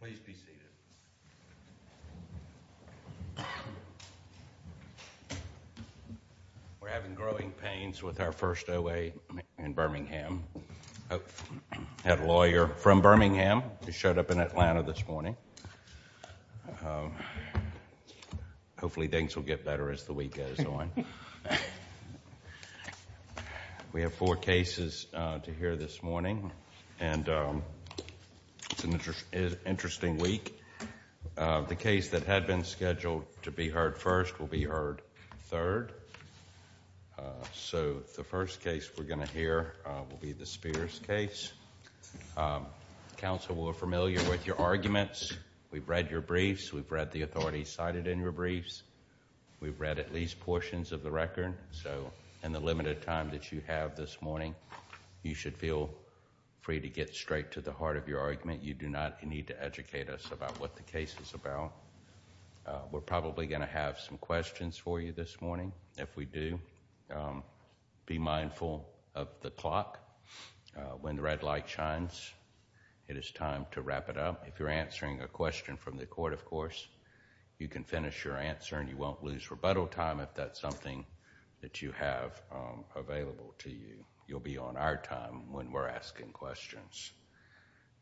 Please be seated. We're having growing pains with our first OA in Birmingham. I have a lawyer from Birmingham who showed up in Atlanta this morning. Hopefully things will get better as the week goes on. We have four cases to hear this morning and it's an interesting week. The case that had been scheduled to be heard first will be heard third. So the first case we're going to hear will be the Spears case. Counsel will be familiar with your arguments. We've read your briefs. We've read the authorities cited in your briefs. We've read at least portions of the record. So in the limited time that you have this morning, you should feel free to get straight to the heart of your argument. You do not need to educate us about what the case is about. We're probably going to have some questions for you this morning. If we do, be mindful of the clock. When the red light shines, it is time to wrap it up. If you're answering a question from the court, of course, you can finish your answer and you won't lose rebuttal time if that's something that you have available to you. You'll be on our time when we're asking questions.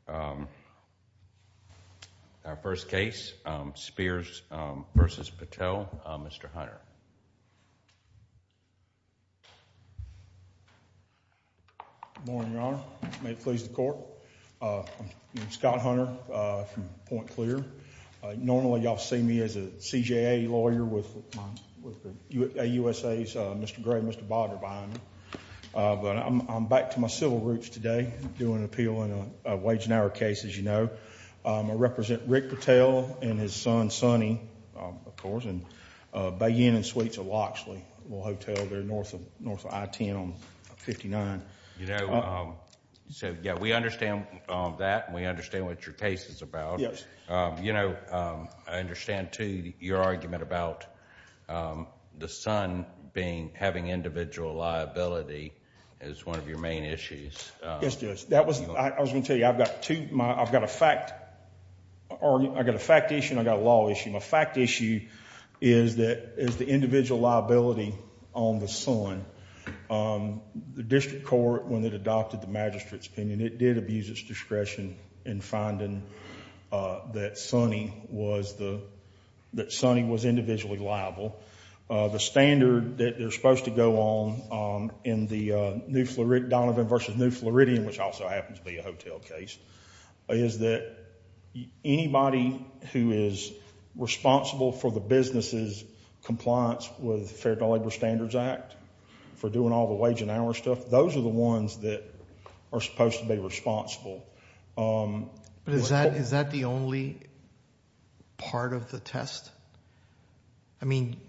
Our first case, Spears v. Patel. Mr. Hunter. Good morning, Your Honor. May it please the court. I'm Scott Hunter from Point Clear. Normally, you'll see me as a CJA lawyer with the AUSA's Mr. Gray and Mr. Bodder behind me. But I'm back to my civil roots today doing an appeal in a wage and hour case, as you know. I represent Rick Patel and his son, Sonny, of course, in Bay Inn and Suites of Loxley, a little hotel there north of I-10 on 59. You know, so yeah, we understand that and we understand what your case is about. You know, I understand, too, your argument about the son having individual liability as one of your main issues. Yes, Judge. I was going to tell you, I've got a fact issue and I've got a law issue. My fact issue is the individual liability on the son. The district court, when it adopted the magistrate's opinion, it did abuse its discretion in finding that Sonny was individually liable. The standard that they're supposed to go on in the Donovan v. New Floridian, which also happens to be a hotel case, is that anybody who is responsible for the business's compliance with the Fair Labor Standards Act, for doing all the wage and hour stuff, those are the ones that are supposed to be responsible. Is that the only part of the test? I mean,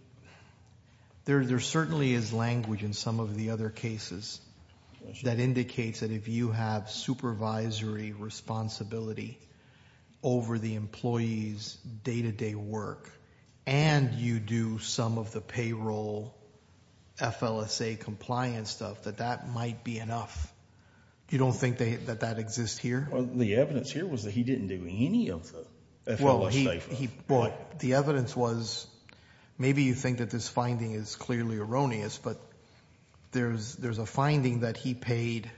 there certainly is language in some of the other cases that indicates that if you have supervisory responsibility over the employee's day-to-day work and you do some of the payroll FLSA compliance stuff, that that might be enough. You don't think that that exists here? The evidence here was that he didn't do any of the FLSA stuff. The evidence was, maybe you think that this finding is clearly erroneous, but there's a finding that he paid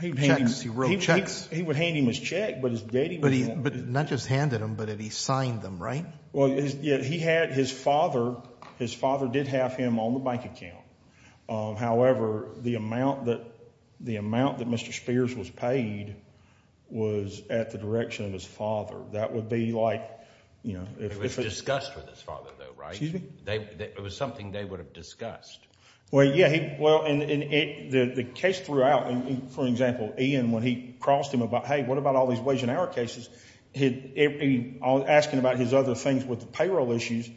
checks, he wrote checks. He would hand him his check, but his daddy wouldn't let him. Not just handed him, but he signed them, right? Yeah, his father did have him on the bank account, however, the amount that Mr. Spears was paid was at the direction of his father. That would be like... It was discussed with his father, though, right? Excuse me? It was something they would have discussed. Well, yeah. The case throughout, for example, Ian, when he crossed him about, hey, what about all the wage and hour cases, asking about his other things with the payroll issues,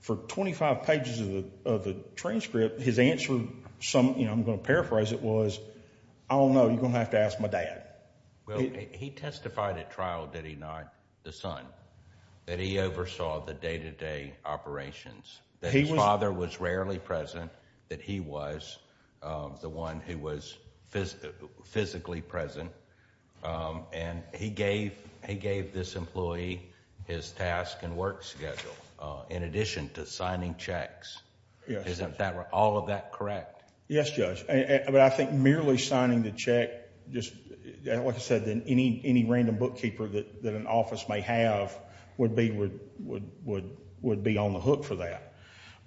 for 25 pages of the transcript, his answer, I'm going to paraphrase it, was, I don't know, you're going to have to ask my dad. He testified at trial that he not the son, that he oversaw the day-to-day operations, that his father was rarely present, that he was the one who was physically present, and he gave this employee his task and work schedule, in addition to signing checks. Isn't all of that correct? Yes, Judge. I think merely signing the check, like I said, any random bookkeeper that an office may have would be on the hook for that.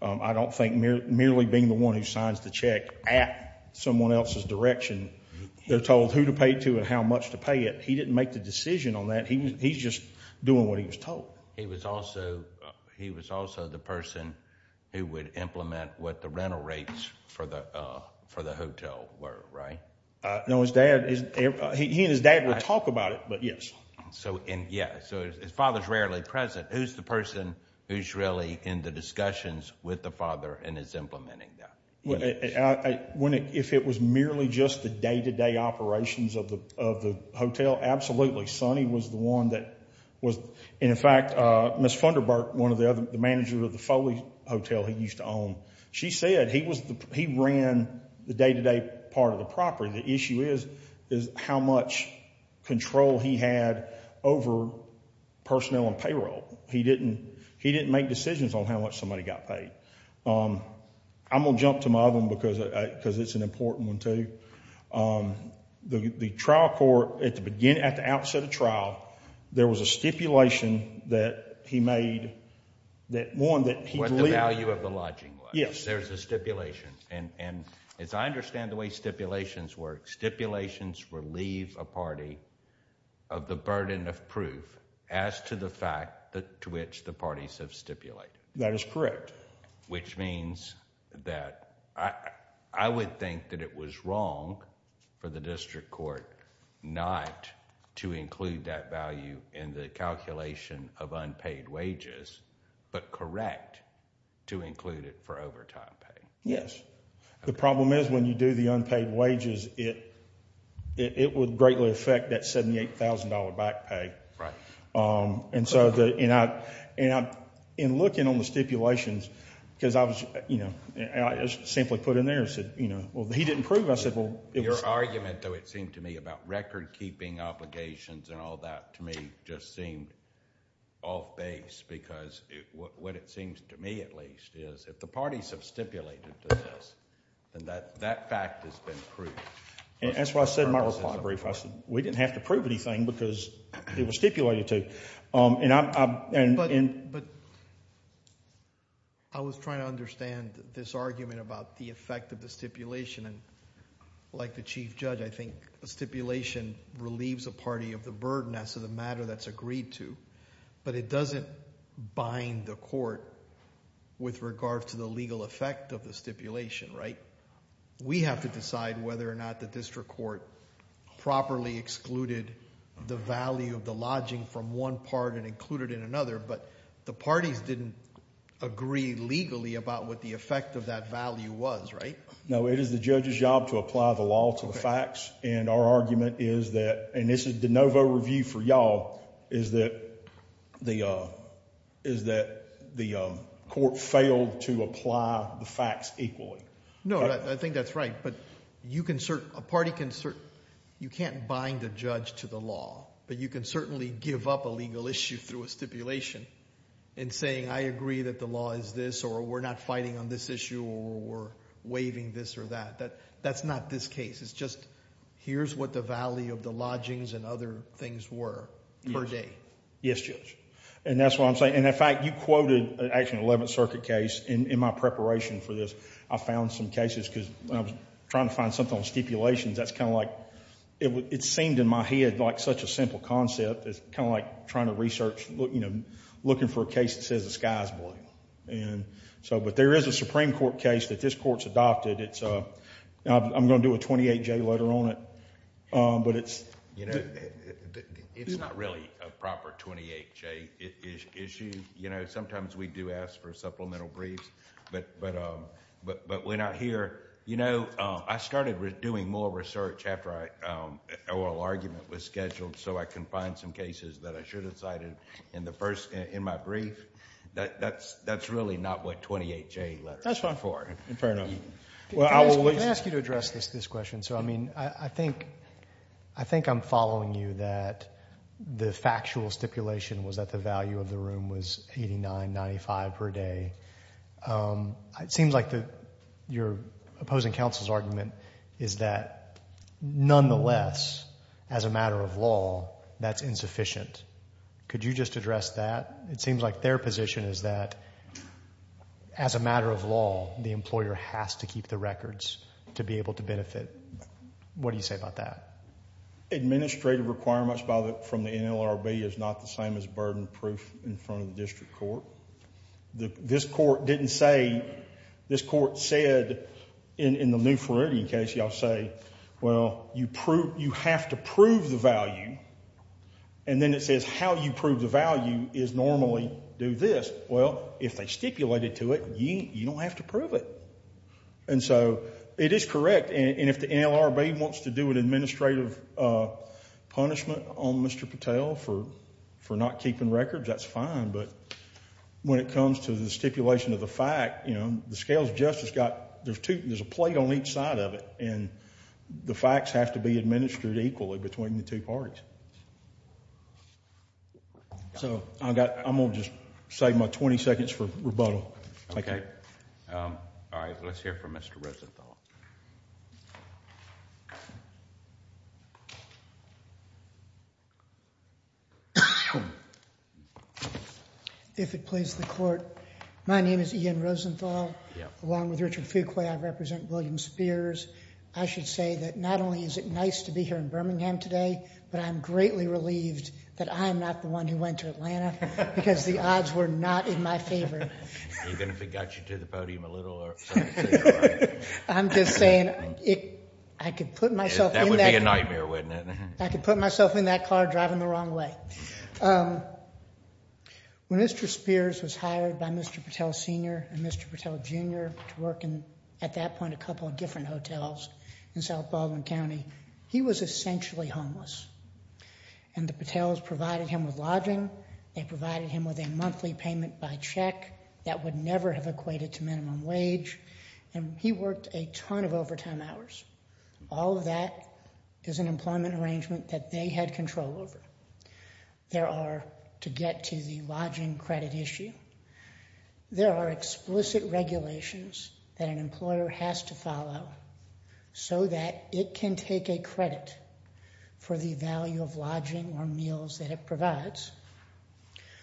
I don't think merely being the one who signs the check at someone else's direction, they're told who to pay it to and how much to pay it. He didn't make the decision on that. He's just doing what he was told. He was also the person who would implement what the rental rates for the hotel were, right? No, his dad, he and his dad would talk about it, but yes. Yes, so his father's rarely present. Who's the person who's really in the discussions with the father and is implementing that? If it was merely just the day-to-day operations of the hotel, absolutely. Sonny was the one that was, and in fact, Ms. Funderburk, the manager of the Foley Hotel he used to own, she said he ran the day-to-day part of the property. The issue is how much control he had over personnel and payroll. He didn't make decisions on how much somebody got paid. I'm going to jump to my other one because it's an important one, too. The trial court, at the outset of trial, there was a stipulation that he made that, one, that he believed- What the value of the lodging was. Yes. There's a stipulation, and as I understand the way stipulations work, stipulations relieve a party of the burden of proof as to the fact to which the parties have stipulated. That is correct. Which means that I would think that it was wrong for the district court not to include that value in the calculation of unpaid wages, but correct to include it for overtime pay. Yes. The problem is when you do the unpaid wages, it would greatly affect that $78,000 back pay. Right. In looking on the stipulations, because I was simply put in there, he didn't prove it. Your argument, though, it seemed to me about record keeping obligations and all that to me just seemed off base because what it seems to me, at least, is if the parties have stipulated to this, then that fact has been proved. That's why I said in my reply brief, we didn't have to prove anything because it was stipulated But I was trying to understand this argument about the effect of the stipulation. Like the chief judge, I think a stipulation relieves a party of the burden as to the matter that's agreed to, but it doesn't bind the court with regard to the legal effect of the stipulation, right? We have to decide whether or not the district court properly excluded the value of the lodging from one part and included it in another, but the parties didn't agree legally about what the effect of that value was, right? No, it is the judge's job to apply the law to the facts, and our argument is that, and this is de novo review for y'all, is that the court failed to apply the facts equally. No, I think that's right, but a party can... You can't bind the judge to the law, but you can certainly give up a legal issue through a stipulation in saying, I agree that the law is this, or we're not fighting on this issue, or we're waiving this or that. That's not this case. It's just, here's what the value of the lodgings and other things were per day. Yes, Judge. That's what I'm saying. In fact, you quoted an actual 11th Circuit case in my preparation for this. I found some cases, because when I was trying to find something on stipulations, that's kind of like... It seemed in my head like such a simple concept as kind of like trying to research, looking for a case that says the sky is blue, but there is a Supreme Court case that this court's adopted. I'm going to do a 28-J letter on it, but it's... It's not really a proper 28-J issue. Sometimes we do ask for supplemental briefs, but when I hear... I started doing more research after our oral argument was scheduled, so I can find some cases that I should have cited in my brief, that's really not what 28-J letters are for. That's fine. Fair enough. Can I ask you to address this question? I think I'm following you that the factual stipulation was that the value of the room was $89.95 per day. It seems like your opposing counsel's argument is that, nonetheless, as a matter of law, that's insufficient. Could you just address that? It seems like their position is that, as a matter of law, the employer has to keep the records to be able to benefit. What do you say about that? Administrative requirements from the NLRB is not the same as burden proof in front of the district court. This court didn't say... This court said in the New Floridian case, y'all say, well, you have to prove the value, and then it says how you prove the value is normally do this. Well, if they stipulated to it, you don't have to prove it. It is correct, and if the NLRB wants to do an administrative punishment on Mr. Patel for not keeping records, that's fine, but when it comes to the stipulation of the fact, the scales of justice got... There's a plate on each side of it, and the facts have to be administered equally between the two parties. I'm going to just save my 20 seconds for rebuttal. Okay. All right. Let's hear from Mr. Rosenthal. If it please the court, my name is Ian Rosenthal, along with Richard Fuqua, I represent William Spears. I should say that not only is it nice to be here in Birmingham today, but I'm greatly relieved that I'm not the one who went to Atlanta, because the odds were not in my favor. Even if it got you to the podium a little, or something similar. I'm just saying, I could put myself in that car driving the wrong way. When Mr. Spears was hired by Mr. Patel Sr. and Mr. Patel Jr. to work in, at that point, a couple of different hotels in South Baldwin County, he was essentially homeless, and the that would never have equated to minimum wage, and he worked a ton of overtime hours. All of that is an employment arrangement that they had control over. There are, to get to the lodging credit issue, there are explicit regulations that an employer has to follow, so that it can take a credit for the value of lodging or meals that it provides.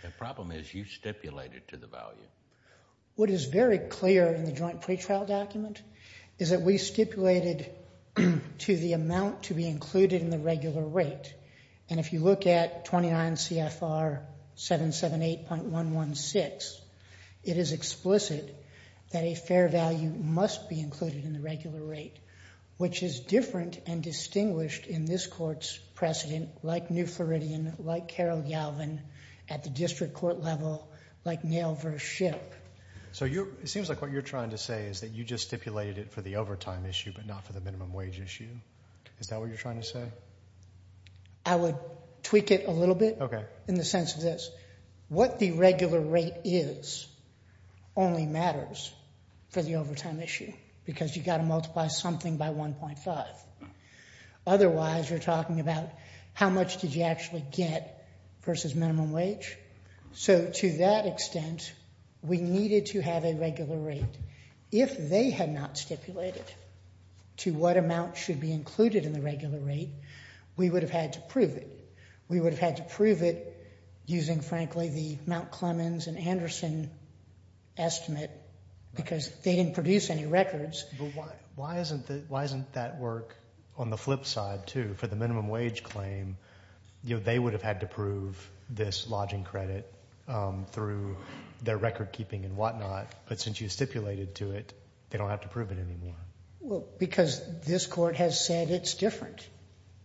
The problem is, you stipulated to the value. What is very clear in the joint pretrial document, is that we stipulated to the amount to be included in the regular rate, and if you look at 29 CFR 778.116, it is explicit that a fair value must be included in the regular rate, which is different and distinguished in this at the district court level, like nail versus ship. So you're, it seems like what you're trying to say is that you just stipulated it for the overtime issue, but not for the minimum wage issue. Is that what you're trying to say? I would tweak it a little bit, in the sense of this. What the regular rate is, only matters for the overtime issue, because you got to multiply something by 1.5. Otherwise, you're talking about how much did you actually get versus minimum wage. So to that extent, we needed to have a regular rate. If they had not stipulated to what amount should be included in the regular rate, we would have had to prove it. We would have had to prove it using, frankly, the Mount Clemens and Anderson estimate, because they didn't produce any records. But why isn't that work on the flip side, too? For the minimum wage claim, they would have had to prove this lodging credit through their record keeping and whatnot, but since you stipulated to it, they don't have to prove it anymore. Well, because this court has said it's different.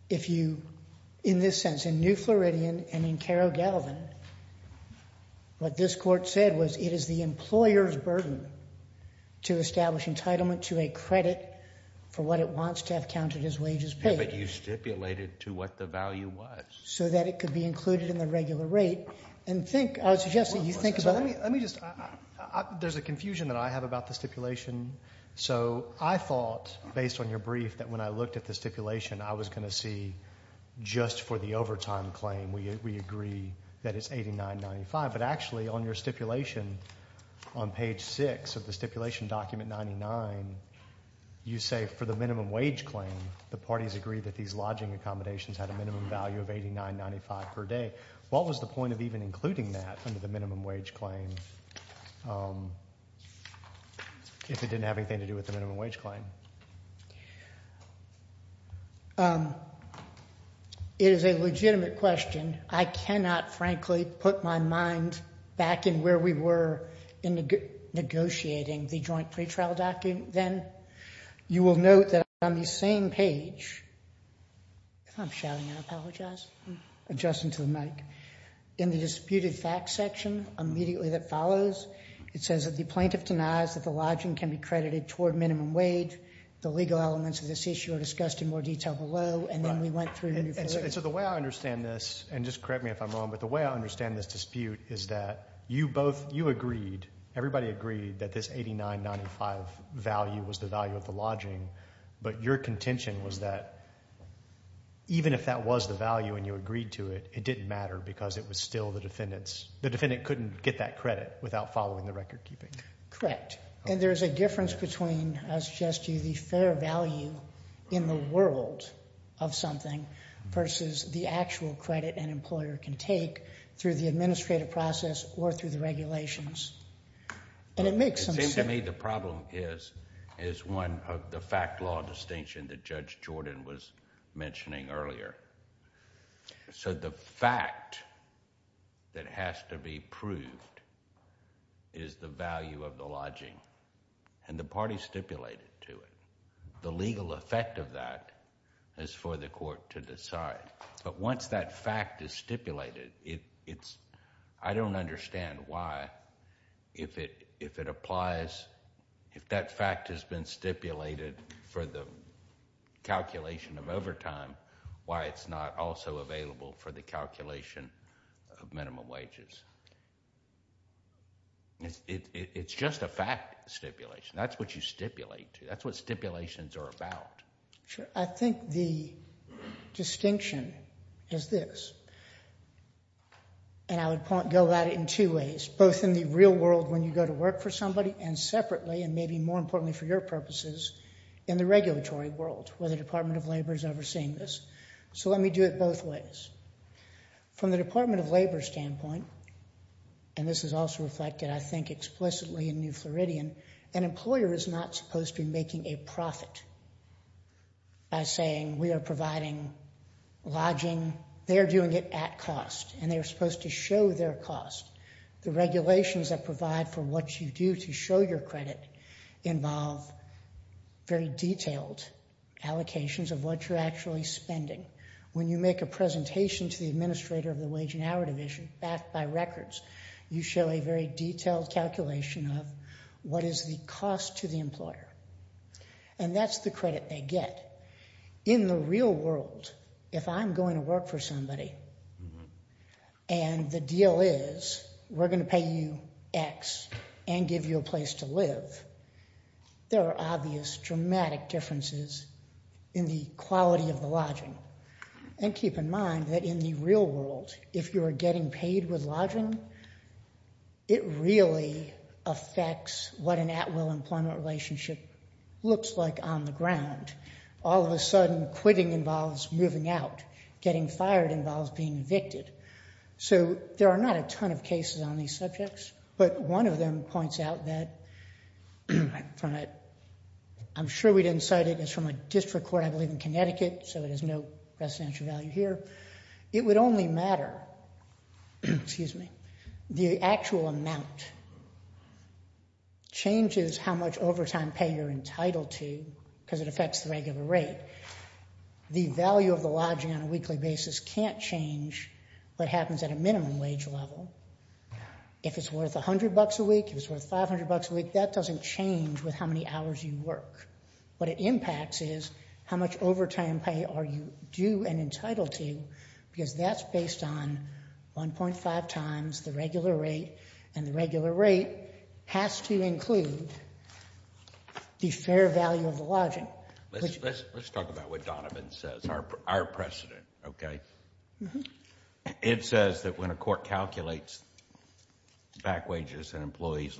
If you, in this sense, in New Floridian and in Carro-Galvin, what this court said was it is the employer's burden to establish entitlement to a credit for what it wants to have counted as wages paid. But you stipulated to what the value was. So that it could be included in the regular rate, and think, I would suggest that you think about it. Let me just, there's a confusion that I have about the stipulation. So I thought, based on your brief, that when I looked at the stipulation, I was going to see just for the overtime claim, we agree that it's $89.95. But actually, on your stipulation, on page 6 of the stipulation document 99, you say for the minimum wage claim, the parties agree that these lodging accommodations had a minimum value of $89.95 per day. What was the point of even including that under the minimum wage claim, if it didn't have anything to do with the minimum wage claim? It is a legitimate question. I cannot, frankly, put my mind back in where we were in negotiating the joint pretrial document then. You will note that on the same page, if I'm shouting, I apologize, adjusting to the mic, in the disputed facts section, immediately that follows, it says that the plaintiff denies that the lodging can be credited toward minimum wage. The legal elements of this issue are discussed in more detail below, and then we went through your stipulation. The way I understand this, and just correct me if I'm wrong, but the way I understand this dispute is that you both, you agreed, everybody agreed that this $89.95 value was the value of the lodging, but your contention was that even if that was the value and you agreed to it, it didn't matter because it was still the defendant's. The defendant couldn't get that credit without following the record keeping. Correct. There's a difference between, I suggest to you, the fair value in the world of something versus the actual credit an employer can take through the administrative process or through the regulations. It makes some sense... It seems to me the problem is one of the fact law distinction that Judge Jordan was mentioning earlier. The fact that has to be proved is the value of the lodging and the party stipulated to it. The legal effect of that is for the court to decide, but once that fact is stipulated, I don't understand why if it applies, if that fact has been stipulated for the calculation of overtime, why it's not also available for the calculation of minimum wages. It's just a fact stipulation. That's what you stipulate. That's what stipulations are about. Sure. I think the distinction is this, and I would go at it in two ways, both in the real world when you go to work for somebody and separately and maybe more importantly for your purposes in the regulatory world where the Department of Labor is overseeing this. So let me do it both ways. From the Department of Labor standpoint, and this is also reflected I think explicitly in New Floridian, an employer is not supposed to be making a profit by saying we are providing lodging. They are doing it at cost, and they are supposed to show their cost. The regulations that provide for what you do to show your credit involve very detailed allocations of what you're actually spending. When you make a presentation to the administrator of the Wage and Hour Division, backed by records, you show a very detailed calculation of what is the cost to the employer, and that's the credit they get. In the real world, if I'm going to work for somebody and the deal is we're going to pay you X and give you a place to live, there are obvious dramatic differences in the quality of the lodging. And keep in mind that in the real world, if you are getting paid with lodging, it really affects what an at-will employment relationship looks like on the ground. All of a sudden, quitting involves moving out. Getting fired involves being evicted. So there are not a ton of cases on these subjects, but one of them points out that I'm sure we didn't cite it. It's from a district court, I believe in Connecticut, so it has no residential value here. It would only matter, excuse me, the actual amount changes how much overtime pay you're entitled to, because it affects the regular rate. The value of the lodging on a weekly basis can't change what happens at a minimum wage level. If it's worth $100 a week, if it's worth $500 a week, that doesn't change with how many hours you work. What it impacts is how much overtime pay are you due and entitled to, because that's based on 1.5 times the regular rate, and the regular rate has to include the fair value of the lodging. Let's talk about what Donovan says, our precedent, okay? It says that when a court calculates back wages and employees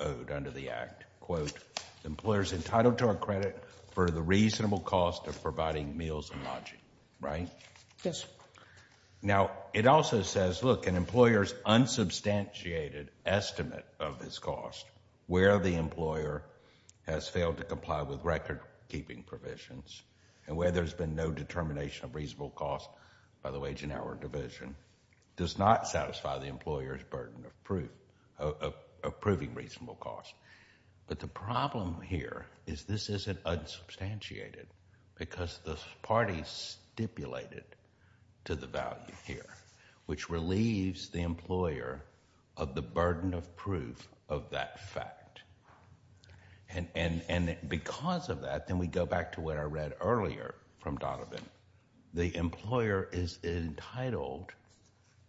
owed under the Act, quote, the employer's entitled to our credit for the reasonable cost of providing meals and lodging, right? Yes. Now, it also says, look, an employer's unsubstantiated estimate of his cost, where the employer has failed to comply with record-keeping provisions, and where there's been no determination of reasonable cost by the wage and hour division, does not satisfy the employer's burden of proving reasonable cost. But the problem here is this isn't unsubstantiated, because the party stipulated to the value here, which relieves the employer of the burden of proof of that fact. And because of that, then we go back to what I read earlier from Donovan. The employer is entitled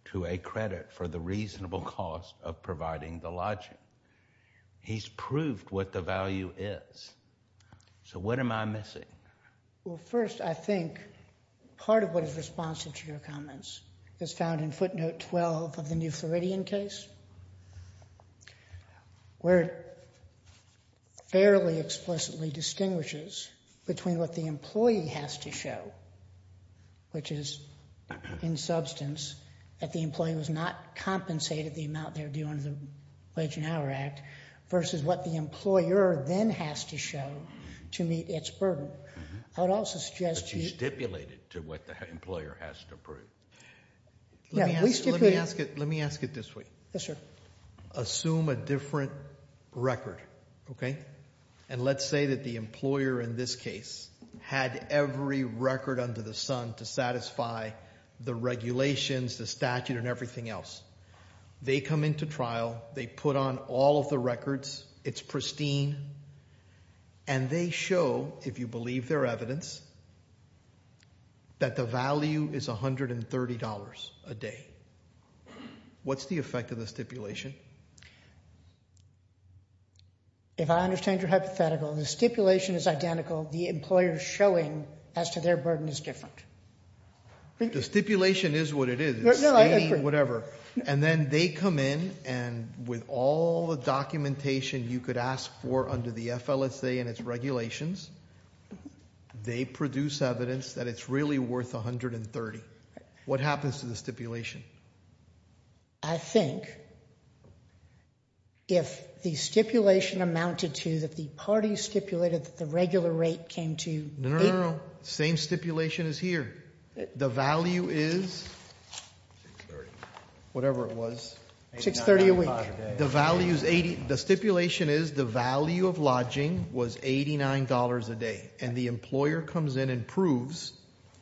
to a credit for the reasonable cost of providing the lodging. He's proved what the value is. So what am I missing? Well, first, I think part of what is responsive to your comments is found in footnote 12 of the New Floridian case, where it fairly explicitly distinguishes between what the employee has to show, which is, in substance, that the employee was not compensated the amount they had to do under the Wage and Hour Act, versus what the employer then has to show to meet its burden. I would also suggest you- But you stipulated to what the employer has to prove. Yeah, we stipulated- Let me ask it this way. Yes, sir. Assume a different record, okay? And let's say that the employer in this case had every record under the sun to satisfy the regulations, the statute, and everything else. They come into trial. They put on all of the records. It's pristine. And they show, if you believe their evidence, that the value is $130 a day. What's the effect of the stipulation? If I understand your hypothetical, the stipulation is identical. The employer's showing as to their burden is different. The stipulation is what it is. It's stating whatever. And then they come in, and with all the documentation you could ask for under the FLSA and its regulations, they produce evidence that it's really worth $130. What happens to the stipulation? I think if the stipulation amounted to that the party stipulated that the regular rate came to- No, no, no. Same stipulation is here. The value is- Whatever it was. $630 a week. The stipulation is the value of lodging was $89 a day. And the employer comes in and proves,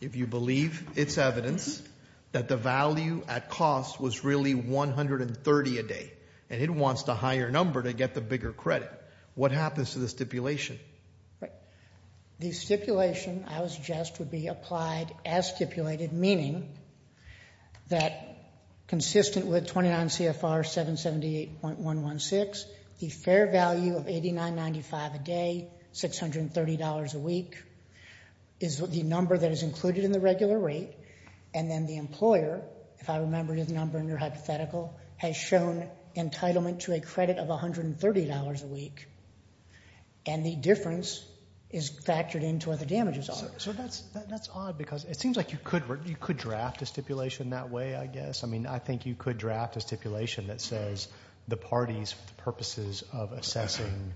if you believe its evidence, that the value at cost was really $130 a day. And it wants the higher number to get the bigger credit. What happens to the stipulation? The stipulation, I would suggest, would be applied as stipulated. Meaning that consistent with 29 CFR 778.116, the fair value of $89.95 a day, $630 a week, is the number that is included in the regular rate. And then the employer, if I remember his number in your hypothetical, has shown entitlement to a credit of $130 a week. And the difference is factored into what the damages are. So that's odd because it seems like you could draft a stipulation that way, I guess. I mean, I think you could draft a stipulation that says the parties for the purposes of assessing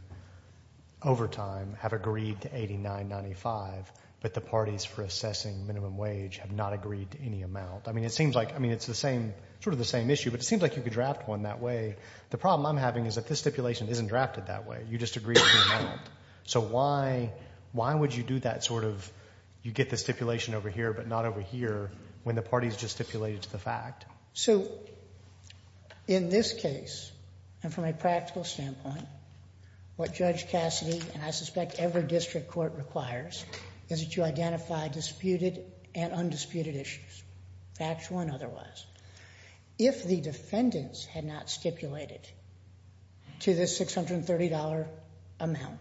overtime have agreed to $89.95, but the parties for assessing minimum wage have not agreed to any amount. I mean, it seems like, I mean, it's the same, sort of the same issue. But it seems like you could draft one that way. The problem I'm having is that this stipulation isn't drafted that way. You just agree to the amount. So why would you do that sort of, you get the stipulation over here, but not over here when the party's just stipulated to the fact? So in this case, and from a practical standpoint, what Judge Cassidy, and I suspect every district court requires, is that you identify disputed and undisputed issues, factual and otherwise. If the defendants had not stipulated to the $630 amount,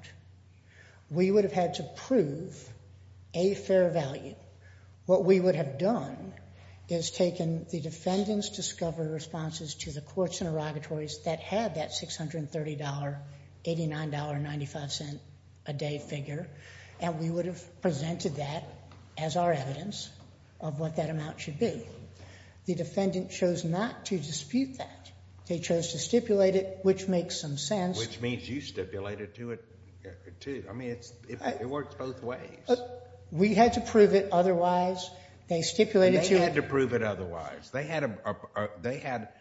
we would have had to prove a fair value. What we would have done is taken the defendant's discovery responses to the courts interrogatories that had that $630, $89.95 a day figure, and we would have presented that as our evidence of what that amount should be. The defendant chose not to dispute that. They chose to stipulate it, which makes some sense. Which means you stipulated to it, too. I mean, it works both ways. We had to prove it otherwise. They stipulated to it. They had to prove it otherwise. They had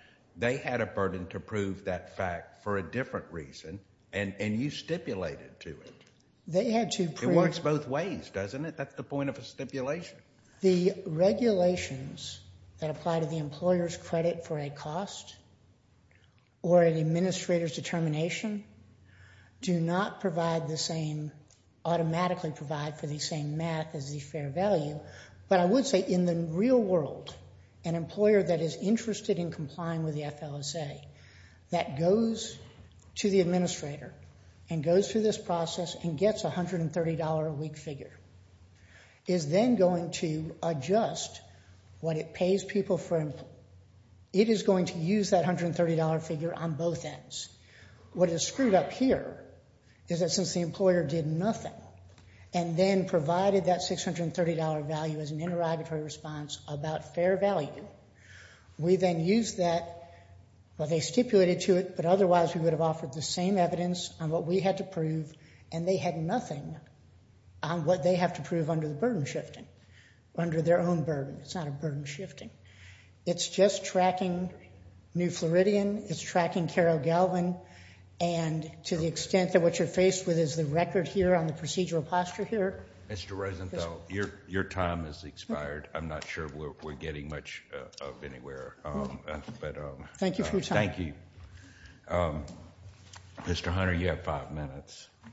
a burden to prove that fact for a different reason, and you stipulated to it. They had to prove. It works both ways, doesn't it? That's the point of a stipulation. The regulations that apply to the employer's credit for a cost or an administrator's determination do not provide the same, automatically provide for the same math as the fair value, but I would say in the real world, an employer that is interested in complying with the FLSA that goes to the administrator and goes through this process and gets a $130 a week figure, is then going to adjust what it pays people for. It is going to use that $130 figure on both ends. What is screwed up here is that since the employer did nothing and then provided that $630 value as an interrogatory response about fair value, we then use that, well, they stipulated to it, but otherwise we would have offered the same evidence on what we had to prove and they had nothing on what they have to prove under the burden shifting, under their own burden. It's not a burden shifting. It's just tracking New Floridian. It's tracking Carol Galvin, and to the extent that what you're faced with is the record here on the procedural posture here. Mr. Rosenthal, your time has expired. I'm not sure we're getting much of anywhere. Thank you for your time. Thank you. Mr. Hunter, you have five minutes. I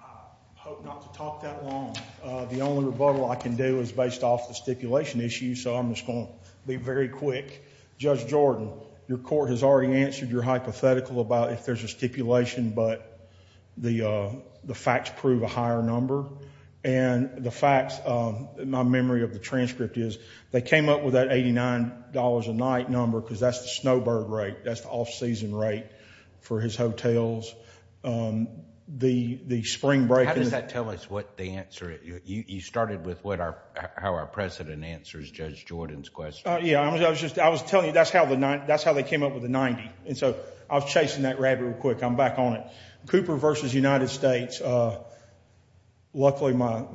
hope not to talk that long. The only rebuttal I can do is based off the stipulation issue, so I'm just going to be very quick. Judge Jordan, your court has already answered your hypothetical about if there's a stipulation, but the facts prove a higher number. And the facts, my memory of the transcript is, they came up with that $89 a night number because that's the snowbird rate. That's the off-season rate for his hotels. How does that tell us what the answer is? You started with how our president answers Judge Jordan's question. Yeah, I was telling you that's how they came up with the 90, and so I was chasing that rabbit real quick. I'm back on it. Cooper versus United States, luckily my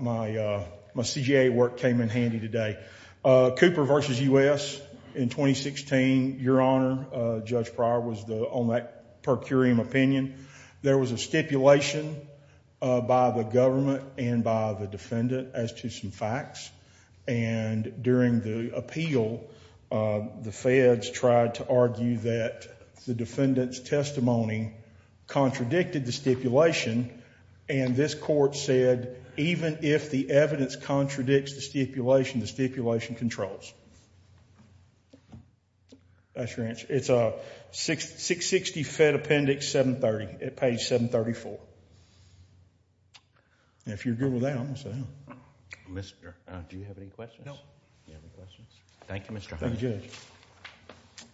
CJA work came in handy today. Cooper versus U.S. in 2016, Your Honor, Judge Pryor was on that per curiam opinion. There was a stipulation by the government and by the defendant as to some facts, and during the appeal, the feds tried to argue that the defendant's testimony contradicted the stipulation, and this court said, even if the evidence contradicts the stipulation, the stipulation controls. That's your answer. It's 660 Fed Appendix 730 at page 734. If you're good with that, I'm going to sit down. Mr. Do you have any questions? No. Thank you, Mr. Holmes. Thank you, Judge.